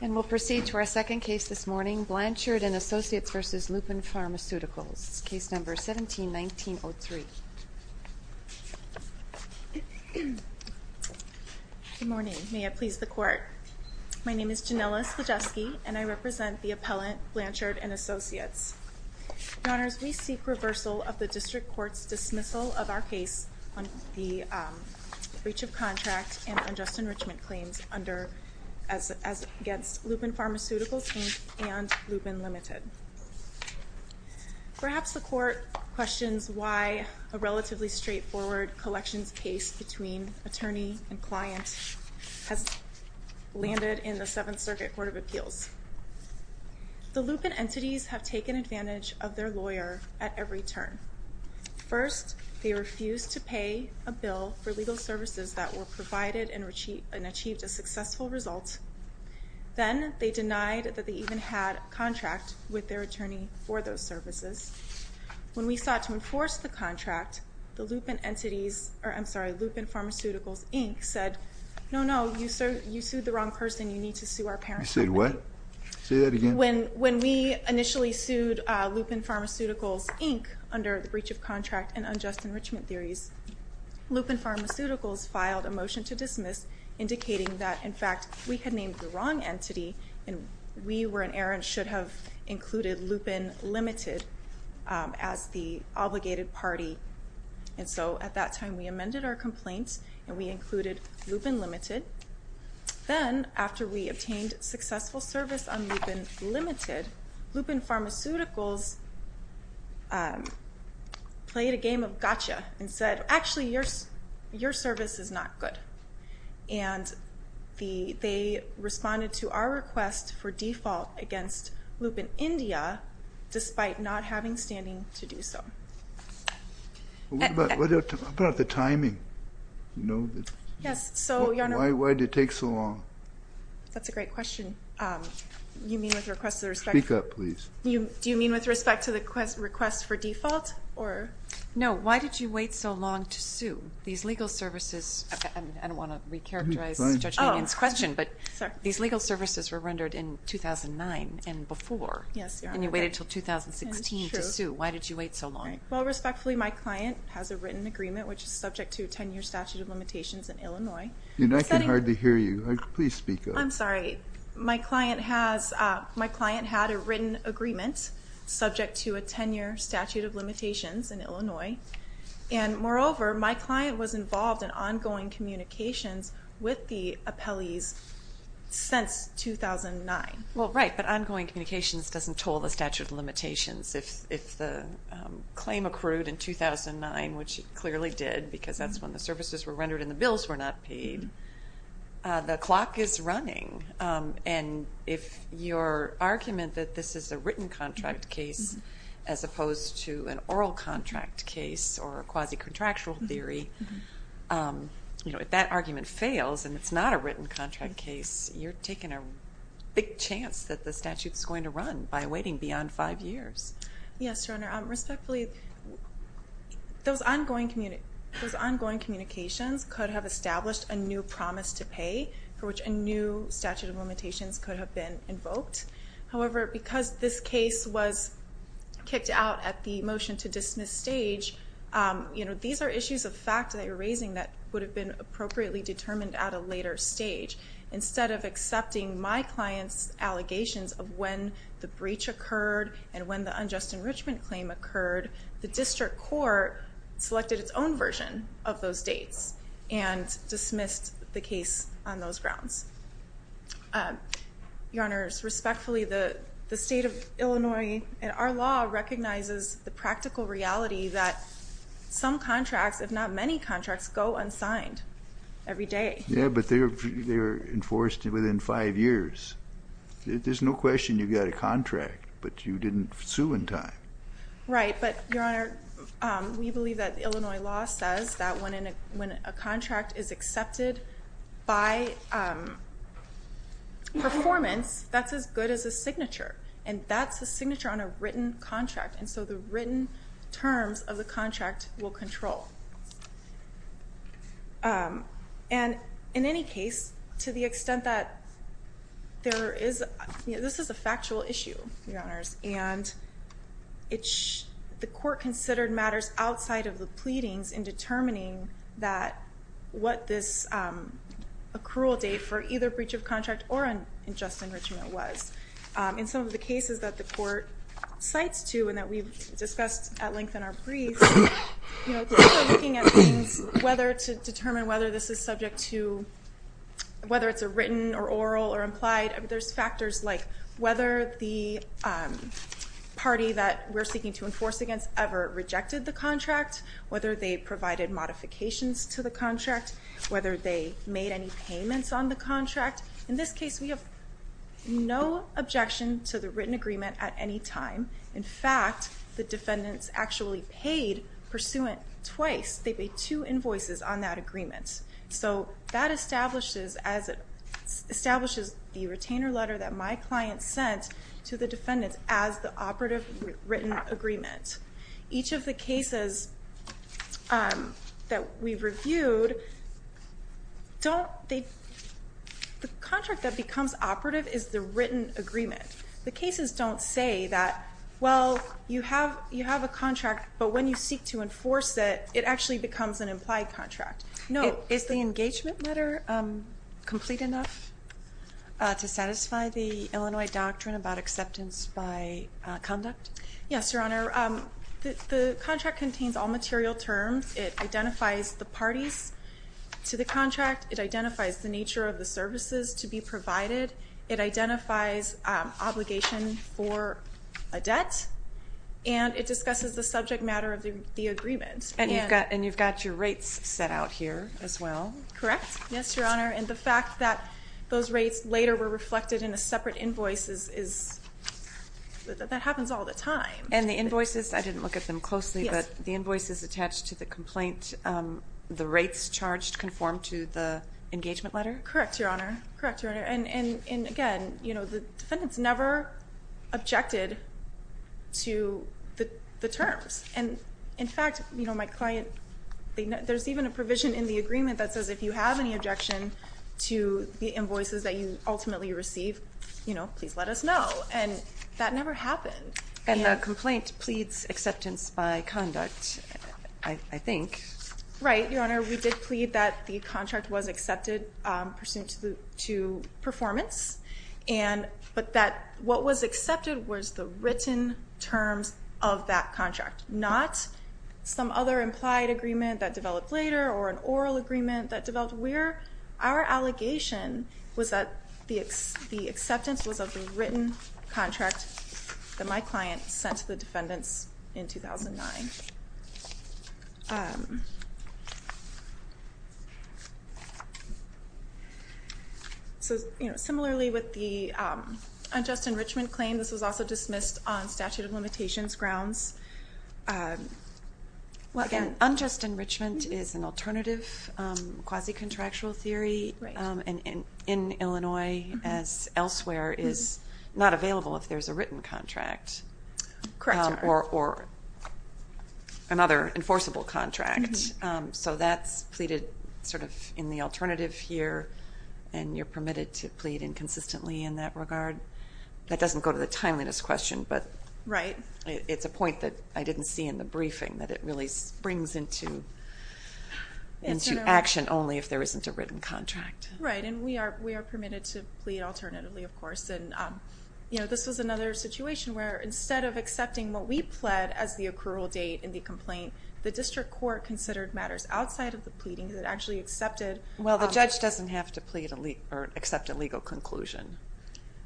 And we'll proceed to our second case this morning, Blanchard & Associates v. Lupin Pharmaceuticals, case number 17-19-03. Good morning. May it please the Court. My name is Janella Slijewski, and I represent the appellant, Blanchard & Associates. Your Honors, we seek reversal of the District Court's dismissal of our case on the breach of contract and unjust enrichment claims against Lupin Pharmaceuticals, Inc. and Lupin Ltd. Perhaps the Court questions why a relatively straightforward collections case between attorney and client has landed in the Seventh Circuit Court of Appeals. The Lupin entities have taken advantage of their lawyer at every turn. First, they refused to pay a bill for legal services that were provided and achieved a successful result. Then, they denied that they even had a contract with their attorney for those services. When we sought to enforce the contract, Lupin Pharmaceuticals, Inc. said, no, no, you sued the wrong person. You need to sue our parent company. You said what? Say that again. When we initially sued Lupin Pharmaceuticals, Inc. under the breach of contract and unjust enrichment theories, Lupin Pharmaceuticals filed a motion to dismiss indicating that, in fact, we had named the wrong entity, and we were in error and should have included Lupin Ltd. as the obligated party. And so, at that time, we amended our complaints, and we included Lupin Ltd. Then, after we obtained successful service on Lupin Ltd., Lupin Pharmaceuticals played a game of gotcha and said, actually, your service is not good. And they responded to our request for default against Lupin India, despite not having standing to do so. What about the timing? Why did it take so long? That's a great question. You mean with respect to the request for default? No. Why did you wait so long to sue these legal services? I don't want to re-characterize Judge Mannion's question, but these legal services were rendered in 2009 and before, and you waited until 2016 to sue. Why did you wait so long? Well, respectfully, my client has a written agreement, which is subject to a 10-year statute of limitations in Illinois. And I can hardly hear you. Please speak up. I'm sorry. My client had a written agreement, subject to a 10-year statute of limitations in Illinois. And moreover, my client was involved in ongoing communications with the appellees since 2009. Well, right, but ongoing communications doesn't toll the statute of limitations. If the claim accrued in 2009, which it clearly did, because that's when the services were rendered and the bills were not paid, the clock is running. And if your argument that this is a written contract case as opposed to an oral contract case or a quasi-contractual theory, if that argument fails and it's not a written contract case, you're taking a big chance that the statute is going to run by waiting beyond five years. Yes, Your Honor. Respectfully, those ongoing communications could have established a new promise to pay for which a new statute of limitations could have been invoked. However, because this case was kicked out at the motion to dismiss stage, you know, these are issues of fact that you're raising that would have been appropriately determined at a later stage. Instead of accepting my client's allegations of when the breach occurred and when the unjust enrichment claim occurred, the district court selected its own version of those dates and dismissed the case on those grounds. Your Honor, respectfully, the state of Illinois and our law recognizes the practical reality that some contracts, if not many contracts, go unsigned every day. Yeah, but they're enforced within five years. There's no question you've got a contract, but you didn't sue in time. Right, but Your Honor, we believe that Illinois law says that when a contract is accepted by performance, that's as good as a signature. And that's a signature on a written contract, and so the written terms of the contract will control. And in any case, to the extent that there is, this is a factual issue, Your Honors, and the court considered matters outside of the pleadings in determining what this accrual date for either breach of contract or unjust enrichment was. In some of the cases that the court cites, too, and that we've discussed at length in our briefs, you know, looking at things, whether to determine whether this is subject to, whether it's a written or oral or implied, there's factors like whether the party that we're seeking to enforce against ever rejected the contract, whether they provided modifications to the contract, whether they made any payments on the contract. In this case, we have no objection to the written agreement at any time. In fact, the defendants actually paid pursuant twice. They paid two invoices on that agreement. So that establishes the retainer letter that my client sent to the defendants as the operative written agreement. Each of the cases that we've reviewed, the contract that becomes operative is the written agreement. The cases don't say that, well, you have a contract, but when you seek to enforce it, it actually becomes an implied contract. Is the engagement letter complete enough to satisfy the Illinois doctrine about acceptance by conduct? Yes, Your Honor. The contract contains all material terms. It identifies the parties to the contract. It identifies the nature of the services to be provided. It identifies obligation for a debt. And it discusses the subject matter of the agreement. And you've got your rates set out here as well. Correct. Yes, Your Honor. And the fact that those rates later were reflected in a separate invoice, that happens all the time. And the invoices, I didn't look at them closely, but the invoices attached to the complaint, the rates charged conform to the engagement letter? Correct, Your Honor. And again, the defendants never objected to the terms. And in fact, my client, there's even a provision in the agreement that says if you have any objection to the invoices that you ultimately receive, please let us know. And that never happened. And the complaint pleads acceptance by conduct, I think. Right, Your Honor. We did plead that the contract was accepted pursuant to performance. But that what was accepted was the written terms of that contract, not some other implied agreement that developed later, or an oral agreement that developed later. Our allegation was that the acceptance was of the written contract that my client sent to the defendants in 2009. Okay. So, you know, similarly with the unjust enrichment claim, this was also dismissed on statute of limitations grounds. Again, unjust enrichment is an alternative quasi-contractual theory. And in Illinois, as elsewhere, is not available if there's a written contract. Correct, Your Honor. Or another enforceable contract. So that's pleaded sort of in the alternative here, and you're permitted to plead inconsistently in that regard. That doesn't go to the timeliness question, but it's a point that I didn't see in the briefing, that it really springs into action only if there isn't a written contract. Right. And we are permitted to plead alternatively, of course. And, you know, this was another situation where instead of accepting what we pled as the accrual date in the complaint, the district court considered matters outside of the pleading that actually accepted. Well, the judge doesn't have to plead or accept a legal conclusion.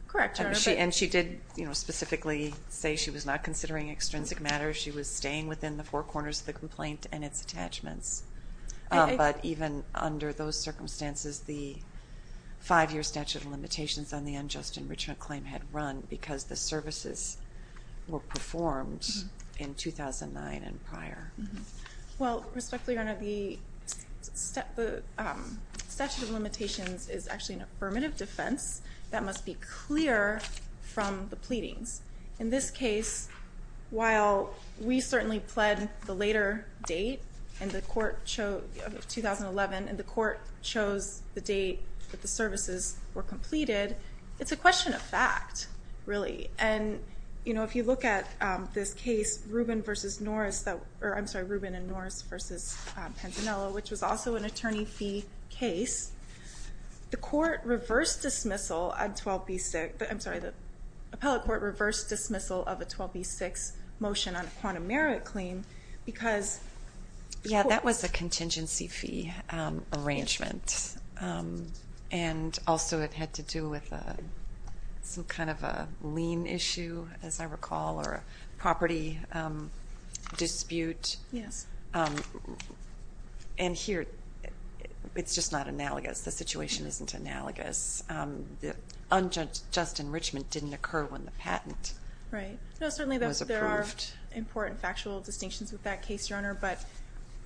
Correct, Your Honor. And she did, you know, specifically say she was not considering extrinsic matters. She was staying within the four corners of the complaint and its attachments. But even under those circumstances, the five-year statute of limitations on the unjust enrichment claim had run because the services were performed in 2009 and prior. Well, respectfully, Your Honor, the statute of limitations is actually an affirmative defense that must be clear from the pleadings. In this case, while we certainly pled the later date, 2011, and the court chose the later date that the services were completed, it's a question of fact, really. And, you know, if you look at this case, Rubin v. Norris, or I'm sorry, Rubin and Norris v. Pantanello, which was also an attorney fee case, the court reversed dismissal on 12B6. I'm sorry, the appellate court reversed dismissal of a 12B6 motion on a quantum merit claim because... Yeah, that was a contingency fee arrangement. And also, it had to do with some kind of a lien issue, as I recall, or a property dispute. Yes. And here, it's just not analogous. The situation isn't analogous. The unjust enrichment didn't occur when the patent was approved. Right. I'm sorry, I'm not a lawyer, but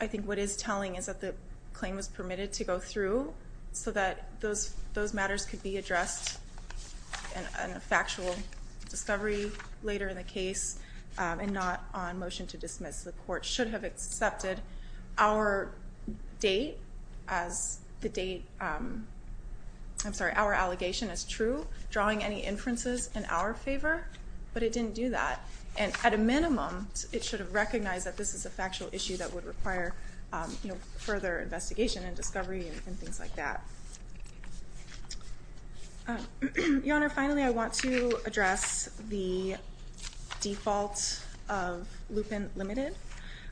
I think what it's telling is that the claim was permitted to go through so that those matters could be addressed in a factual discovery later in the case and not on motion to dismiss. The court should have accepted our date as the date... I'm sorry, our allegation as true, drawing any inferences in our favor, but it didn't do that. And at a minimum, it should have recognized that this is a factual issue that would require further investigation and discovery and things like that. Your Honor, finally, I want to address the default of Lupin Limited.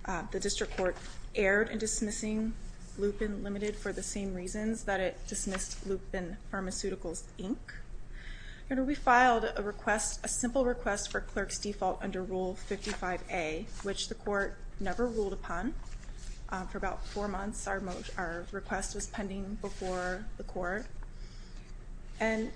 The district court erred in dismissing Lupin Limited for the same reasons that it dismissed Lupin Pharmaceuticals, Inc. Your Honor, we filed a request, a simple request for clerk's default under Rule 55A, which the court never ruled upon. For about four months, our request was pending before the court. And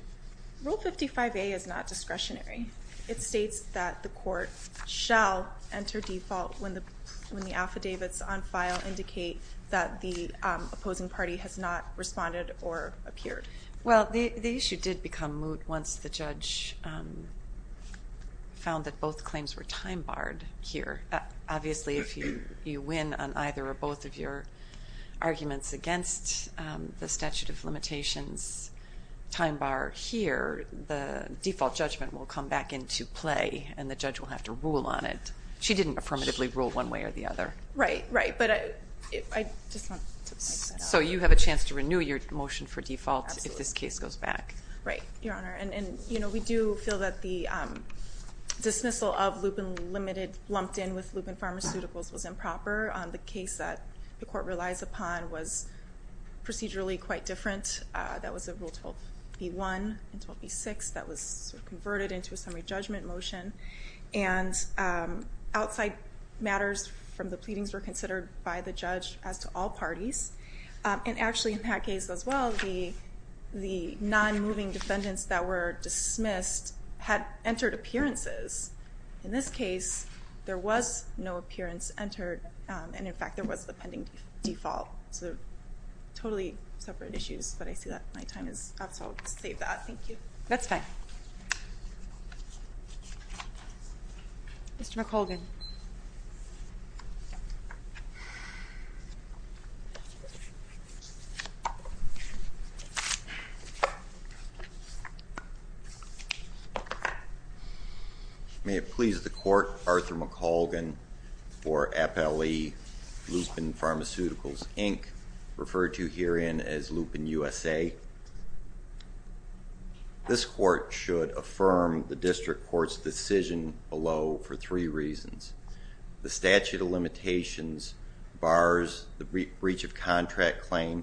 Rule 55A is not discretionary. It states that the court shall enter default when the affidavits on file indicate that the opposing party has not responded or appeared. Well, the issue did become moot once the judge found that both claims were time-barred here. Obviously, if you win on either or both of your arguments against the statute of limitations time-bar here, the default judgment will come back into play and the judge will have to rule on it. She didn't affirmatively rule one way or the other. Right, right, but I just want to... So you have a chance to renew your motion for default if this case goes back. Right, Your Honor. And we do feel that the dismissal of Lupin Limited lumped in with Lupin Pharmaceuticals was improper. The case that the court relies upon was procedurally quite different. That was a Rule 12B1 and 12B6 that was converted into a summary judgment motion. And outside matters from the pleadings were considered by the judge as to all parties. And actually, in that case as well, the non-moving defendants that were dismissed had entered appearances. In this case, there was no appearance entered, and in fact, there was the pending default. So totally separate issues, but I see that my time is up, so I'll save that. Thank you. That's fine. Mr. McColgan. May it please the Court, Arthur McColgan for FLE Lupin Pharmaceuticals, Inc., referred to herein as Lupin USA. This Court should affirm the District Court's decision below for three reasons. The statute of limitations bars the breach of contract claim.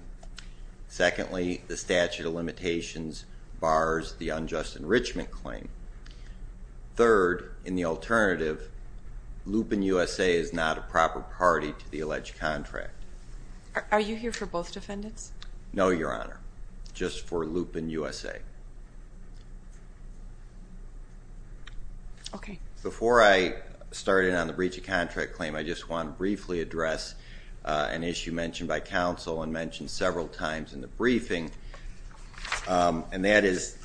Secondly, the statute of limitations bars the unjust enrichment claim. Third, in the alternative, Lupin USA is not a proper party to the alleged contract. Are you here for both defendants? No, Your Honor. Just for Lupin USA. Okay. Before I start in on the breach of contract claim, I just want to briefly address an issue mentioned by counsel and mentioned several times in the briefing, and that is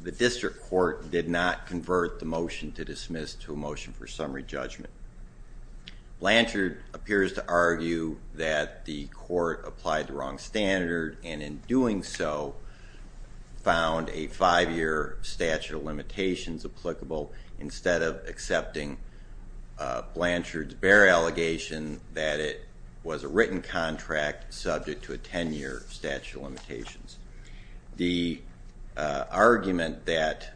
the District Court did not convert the motion to dismiss to a motion for summary judgment. Blanchard appears to argue that the Court applied the wrong standard, and in doing so, found a five-year statute of limitations applicable instead of accepting Blanchard's bare allegation that it was a written contract subject to a 10-year statute of limitations. The argument that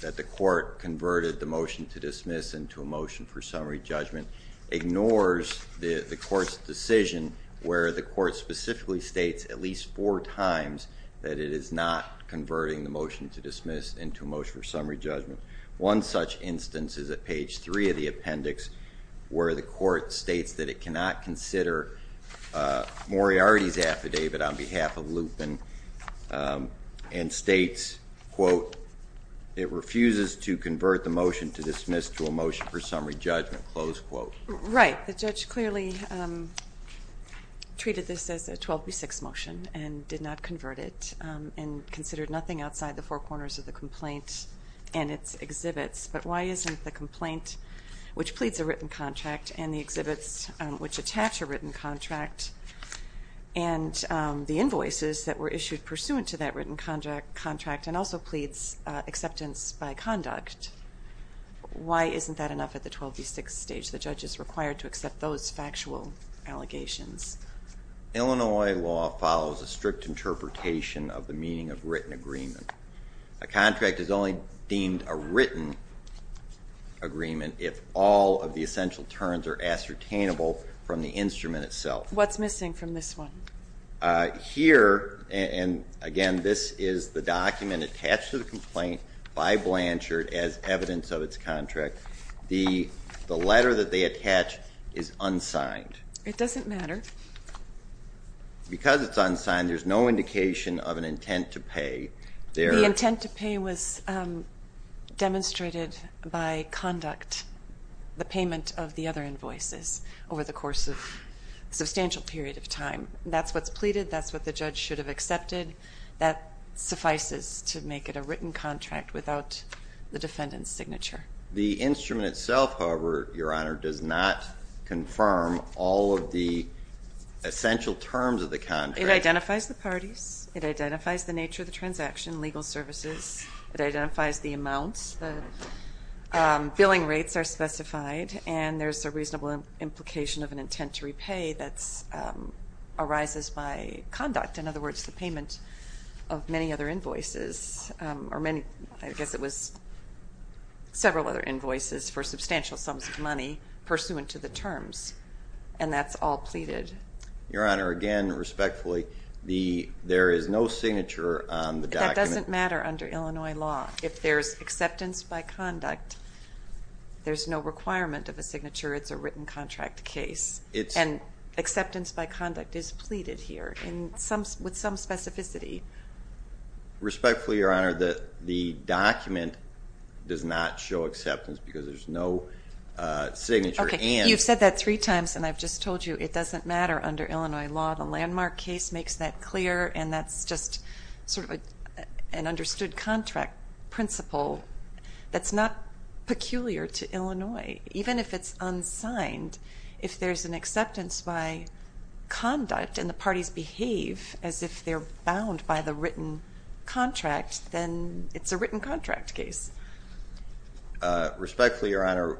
the Court converted the motion to dismiss into a motion for summary judgment ignores the Court's decision where the Court specifically states at least four times that it is not converting the motion to dismiss into a motion for summary judgment. One such instance is at page three of the appendix where the Court states that it cannot consider Moriarty's affidavit on behalf of Lupin and states, quote, it refuses to convert the motion to dismiss to a motion for summary judgment, close quote. Right. The judge clearly treated this as a 12B6 motion and did not convert it and considered nothing outside the four corners of the complaint and its exhibits, but why isn't the complaint which pleads a written contract and the exhibits which attach a written contract and the invoices that were issued pursuant to that written contract and also pleads acceptance by conduct, why isn't that enough at the 12B6 stage? The judge is required to accept those factual allegations. Illinois law follows a strict interpretation of the meaning of written agreement. A contract is only deemed a written agreement if all of the essential terms are ascertainable from the instrument itself. What's missing from this one? Here, and again, this is the document attached to the complaint by Blanchard as evidence of its contract. The letter that they attach is unsigned. It doesn't matter. Because it's unsigned, there's no indication of an intent to pay. The intent to pay was demonstrated by conduct, the payment of the other invoices over the course of a substantial period of time. That's what's pleaded. That's what the judge should have accepted. That suffices to make it a written contract without the defendant's signature. The instrument itself, however, Your Honor, does not confirm all of the essential terms of the contract. It identifies the parties. It identifies the nature of the transaction, legal services. It identifies the amounts. The billing rates are specified. And there's a reasonable implication of an intent to repay that arises by conduct, in other words, the payment of many other invoices. I guess it was several other invoices for substantial sums of money pursuant to the terms. And that's all pleaded. Your Honor, again, respectfully, there is no signature on the document. That doesn't matter under Illinois law. If there's acceptance by conduct, there's no requirement of a signature. It's a written contract case. And acceptance by conduct is pleaded here with some specificity. Respectfully, Your Honor, the document does not show acceptance because there's no signature. Okay. You've said that three times, and I've just told you it doesn't matter under Illinois law. The landmark case makes that clear, and that's just sort of an understood contract principle. That's not peculiar to Illinois. Even if it's unsigned, if there's an acceptance by conduct and the parties behave as if they're bound by the written contract, then it's a written contract case. Respectfully, Your Honor,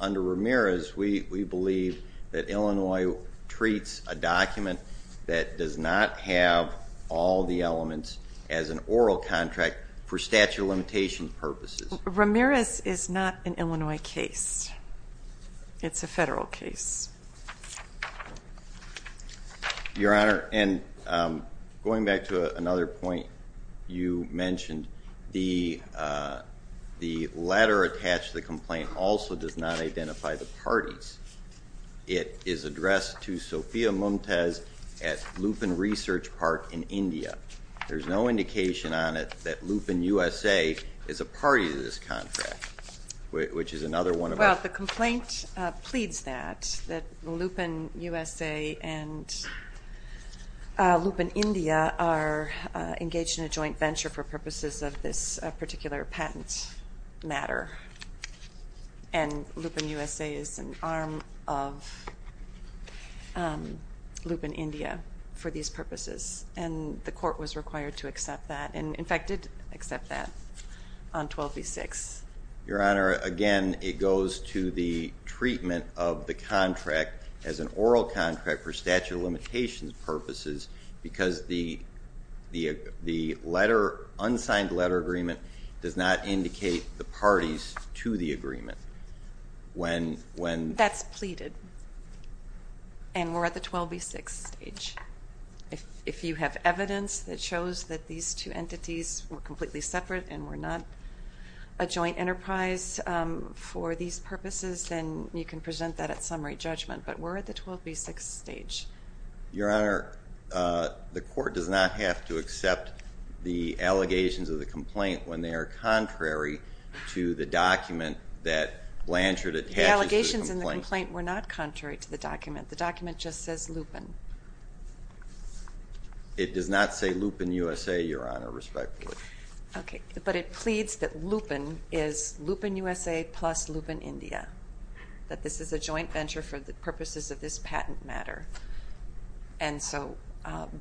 under Ramirez, we believe that Illinois treats a document that does not have all the elements as an oral contract for statute of limitations purposes. Ramirez is not an Illinois case. It's a federal case. Your Honor, and going back to another point you mentioned, the letter attached to the complaint also does not identify the parties. It is addressed to Sophia Mumtaz at Lupin Research Park in India. There's no indication on it that Lupin USA is a party to this contract, which is another one of our. Well, the complaint pleads that, that Lupin USA and Lupin India are engaged in a joint venture for purposes of this particular patent matter, and Lupin USA is an arm of Lupin India for these purposes, and the court was required to accept that, and, in fact, did accept that on 12B6. Your Honor, again, it goes to the treatment of the contract as an oral contract for statute of limitations purposes because the letter, unsigned letter agreement does not indicate the parties to the agreement. That's pleaded, and we're at the 12B6 stage. If you have evidence that shows that these two entities were completely separate and were not a joint enterprise for these purposes, then you can present that at summary judgment, but we're at the 12B6 stage. Your Honor, the court does not have to accept the allegations of the complaint when they are contrary to the document that Blanchard attaches to the complaint. The document just says Lupin. It does not say Lupin USA, Your Honor, respectfully. Okay, but it pleads that Lupin is Lupin USA plus Lupin India, that this is a joint venture for the purposes of this patent matter, and so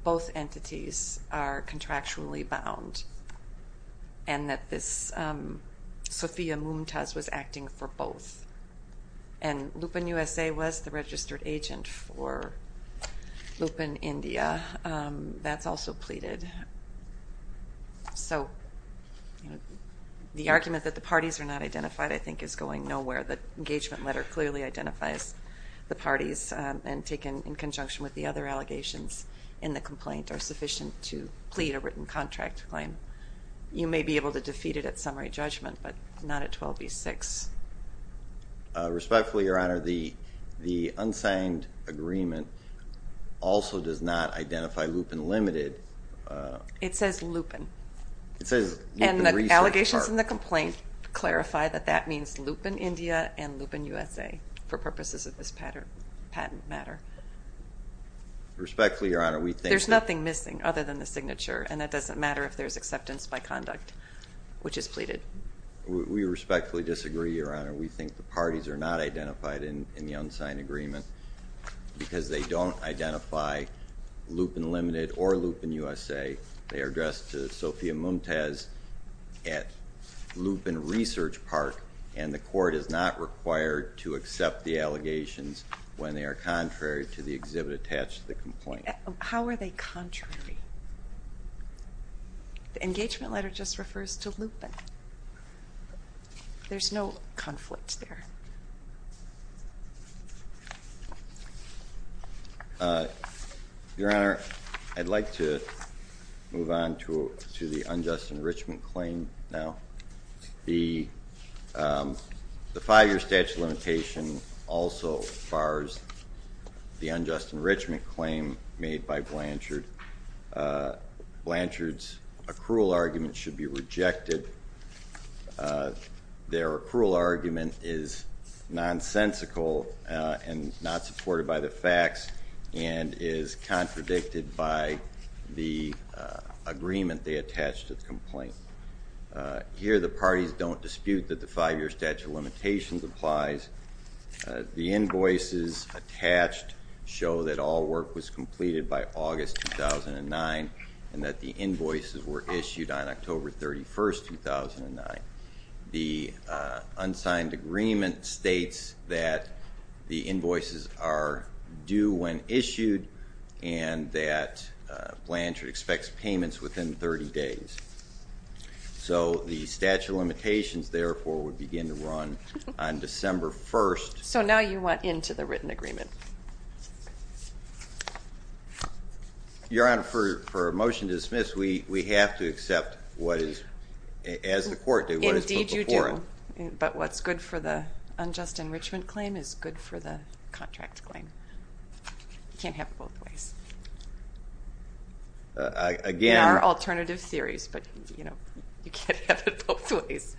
both entities are contractually bound, and that this Sophia Mumtaz was acting for both, and Lupin USA was the registered agent for Lupin India. That's also pleaded. So the argument that the parties are not identified I think is going nowhere. The engagement letter clearly identifies the parties, and taken in conjunction with the other allegations in the complaint are sufficient to plead a written contract claim. You may be able to defeat it at summary judgment, but not at 12B6. Respectfully, Your Honor, the unsigned agreement also does not identify Lupin Limited. It says Lupin. And the allegations in the complaint clarify that that means Lupin India and Lupin USA for purposes of this patent matter. Respectfully, Your Honor, we think that There's nothing missing other than the signature, and it doesn't matter if there's acceptance by conduct, which is pleaded. We respectfully disagree, Your Honor. We think the parties are not identified in the unsigned agreement because they don't identify Lupin Limited or Lupin USA. They are addressed to Sophia Mumtaz at Lupin Research Park, and the court is not required to accept the allegations when they are contrary to the exhibit attached to the complaint. How are they contrary? The engagement letter just refers to Lupin. There's no conflict there. Your Honor, I'd like to move on to the unjust enrichment claim now. The five-year statute of limitation also bars the unjust enrichment claim made by Blanchard. Blanchard's accrual argument should be rejected. Their accrual argument is nonsensical and not supported by the facts and is contradicted by the agreement they attached to the complaint. Here the parties don't dispute that the five-year statute of limitations applies. The invoices attached show that all work was completed by August 2009 and that the invoices were issued on October 31, 2009. The unsigned agreement states that the invoices are due when issued and that Blanchard expects payments within 30 days. So the statute of limitations, therefore, would begin to run on December 1. So now you want into the written agreement. Your Honor, for a motion to dismiss, we have to accept what is, as the court did, what is before it. Indeed you do, but what's good for the unjust enrichment claim is good for the contract claim. You can't have it both ways. There are alternative theories, but you can't have it both ways.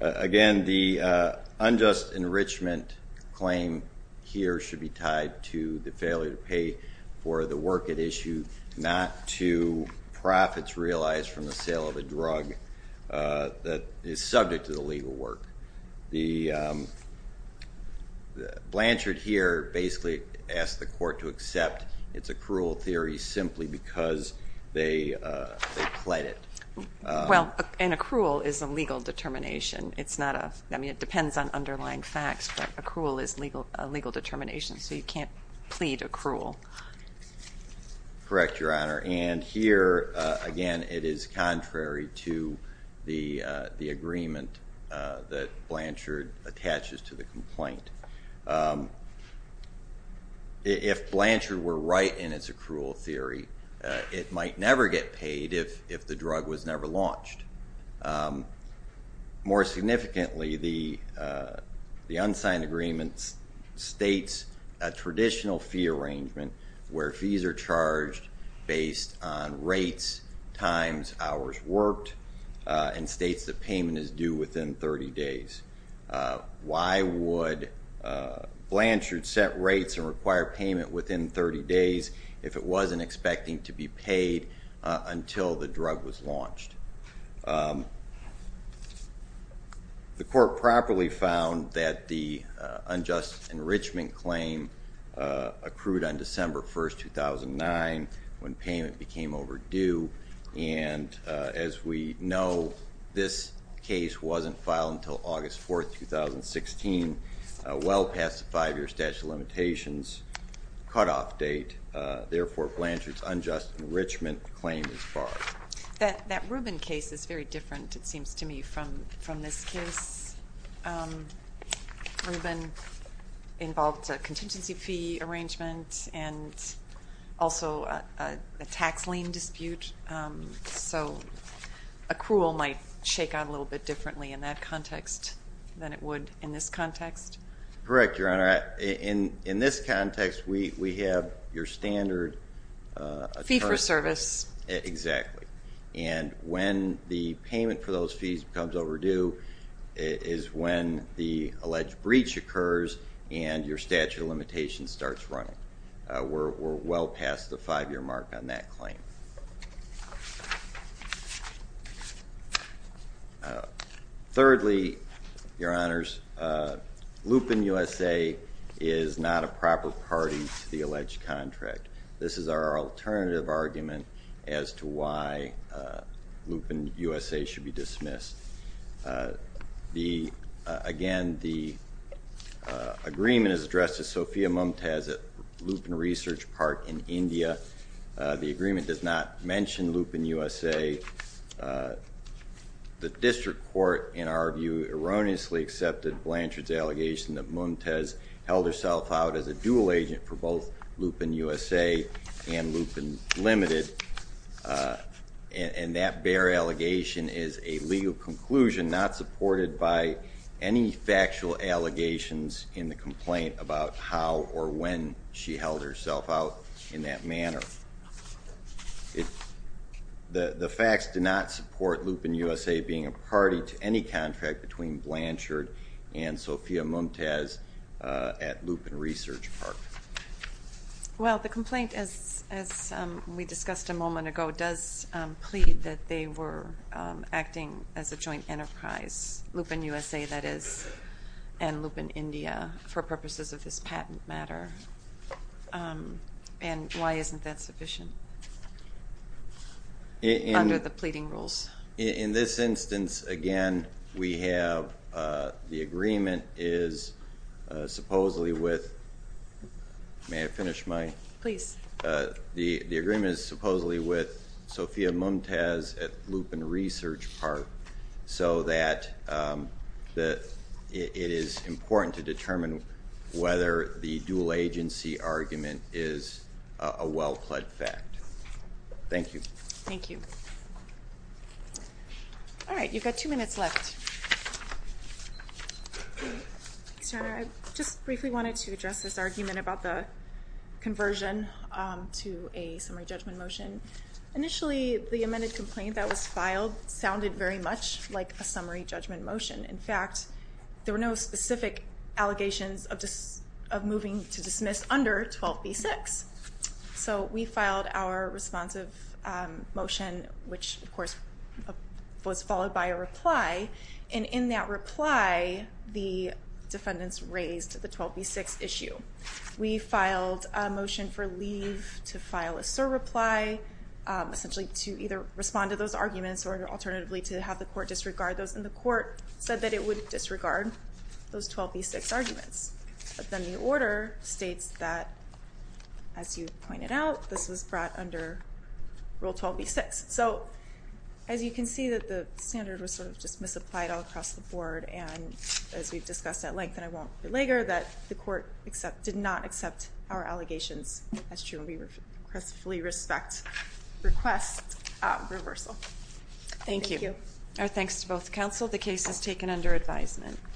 Again, the unjust enrichment claim here should be tied to the failure to pay for the work at issue, not to profits realized from the sale of a drug that is subject to the legal work. Blanchard here basically asked the court to accept its accrual theory simply because they pled it. Well, an accrual is a legal determination. It depends on underlying facts, but accrual is a legal determination, so you can't plead accrual. Correct, Your Honor. And here, again, it is contrary to the agreement that Blanchard attaches to the complaint. If Blanchard were right in its accrual theory, it might never get paid if the drug was never launched. More significantly, the unsigned agreement states a traditional fee arrangement where fees are charged based on rates, times, hours worked, and states that payment is due within 30 days. Why would Blanchard set rates and require payment within 30 days if it wasn't expecting to be paid until the drug was launched? The court properly found that the unjust enrichment claim accrued on December 1, 2009 when payment became overdue, and as we know, this case wasn't filed until August 4, 2016, well past the five-year statute of limitations cutoff date. Therefore, Blanchard's unjust enrichment claim is barred. That Rubin case is very different, it seems to me, from this case. Rubin involved a contingency fee arrangement and also a tax lien dispute, so accrual might shake out a little bit differently in that context than it would in this context. Correct, Your Honor. In this context, we have your standard attorney. Fee for service. Exactly. And when the payment for those fees becomes overdue is when the alleged breach occurs and your statute of limitations starts running. We're well past the five-year mark on that claim. Thirdly, Your Honors, Lupin USA is not a proper party to the alleged contract. This is our alternative argument as to why Lupin USA should be dismissed. Again, the agreement is addressed to Sophia Mumtaz at Lupin Research Park in India. The agreement does not mention Lupin USA. The district court, in our view, erroneously accepted Blanchard's allegation that Mumtaz held herself out as a dual agent for both Lupin USA and Lupin Limited, and that bare allegation is a legal conclusion not supported by any factual allegations in the complaint about how or when she held herself out in that manner. The facts do not support Lupin USA being a party to any contract between Blanchard and Sophia Mumtaz at Lupin Research Park. Well, the complaint, as we discussed a moment ago, does plead that they were acting as a joint enterprise, Lupin USA that is, and Lupin India, for purposes of this patent matter. And why isn't that sufficient under the pleading rules? In this instance, again, we have the agreement is supposedly with, may I finish my? Please. The agreement is supposedly with Sophia Mumtaz at Lupin Research Park, so that it is important to determine whether the dual agency argument is a well-plead fact. Thank you. Thank you. All right, you've got two minutes left. Ms. Turner, I just briefly wanted to address this argument about the conversion to a summary judgment motion. Initially, the amended complaint that was filed sounded very much like a summary judgment motion. In fact, there were no specific allegations of moving to dismiss under 12b-6. So we filed our responsive motion, which, of course, was followed by a reply. And in that reply, the defendants raised the 12b-6 issue. We filed a motion for leave to file a surreply, essentially to either respond to those arguments or alternatively to have the court disregard those. And the court said that it would disregard those 12b-6 arguments. But then the order states that, as you pointed out, this was brought under Rule 12b-6. So as you can see, the standard was sort of just misapplied all across the board. And as we've discussed at length, and I won't belabor, that the court did not accept our allegations. That's true, and we respectfully request reversal. Thank you. Thank you. Our thanks to both counsel. The case is taken under advisement.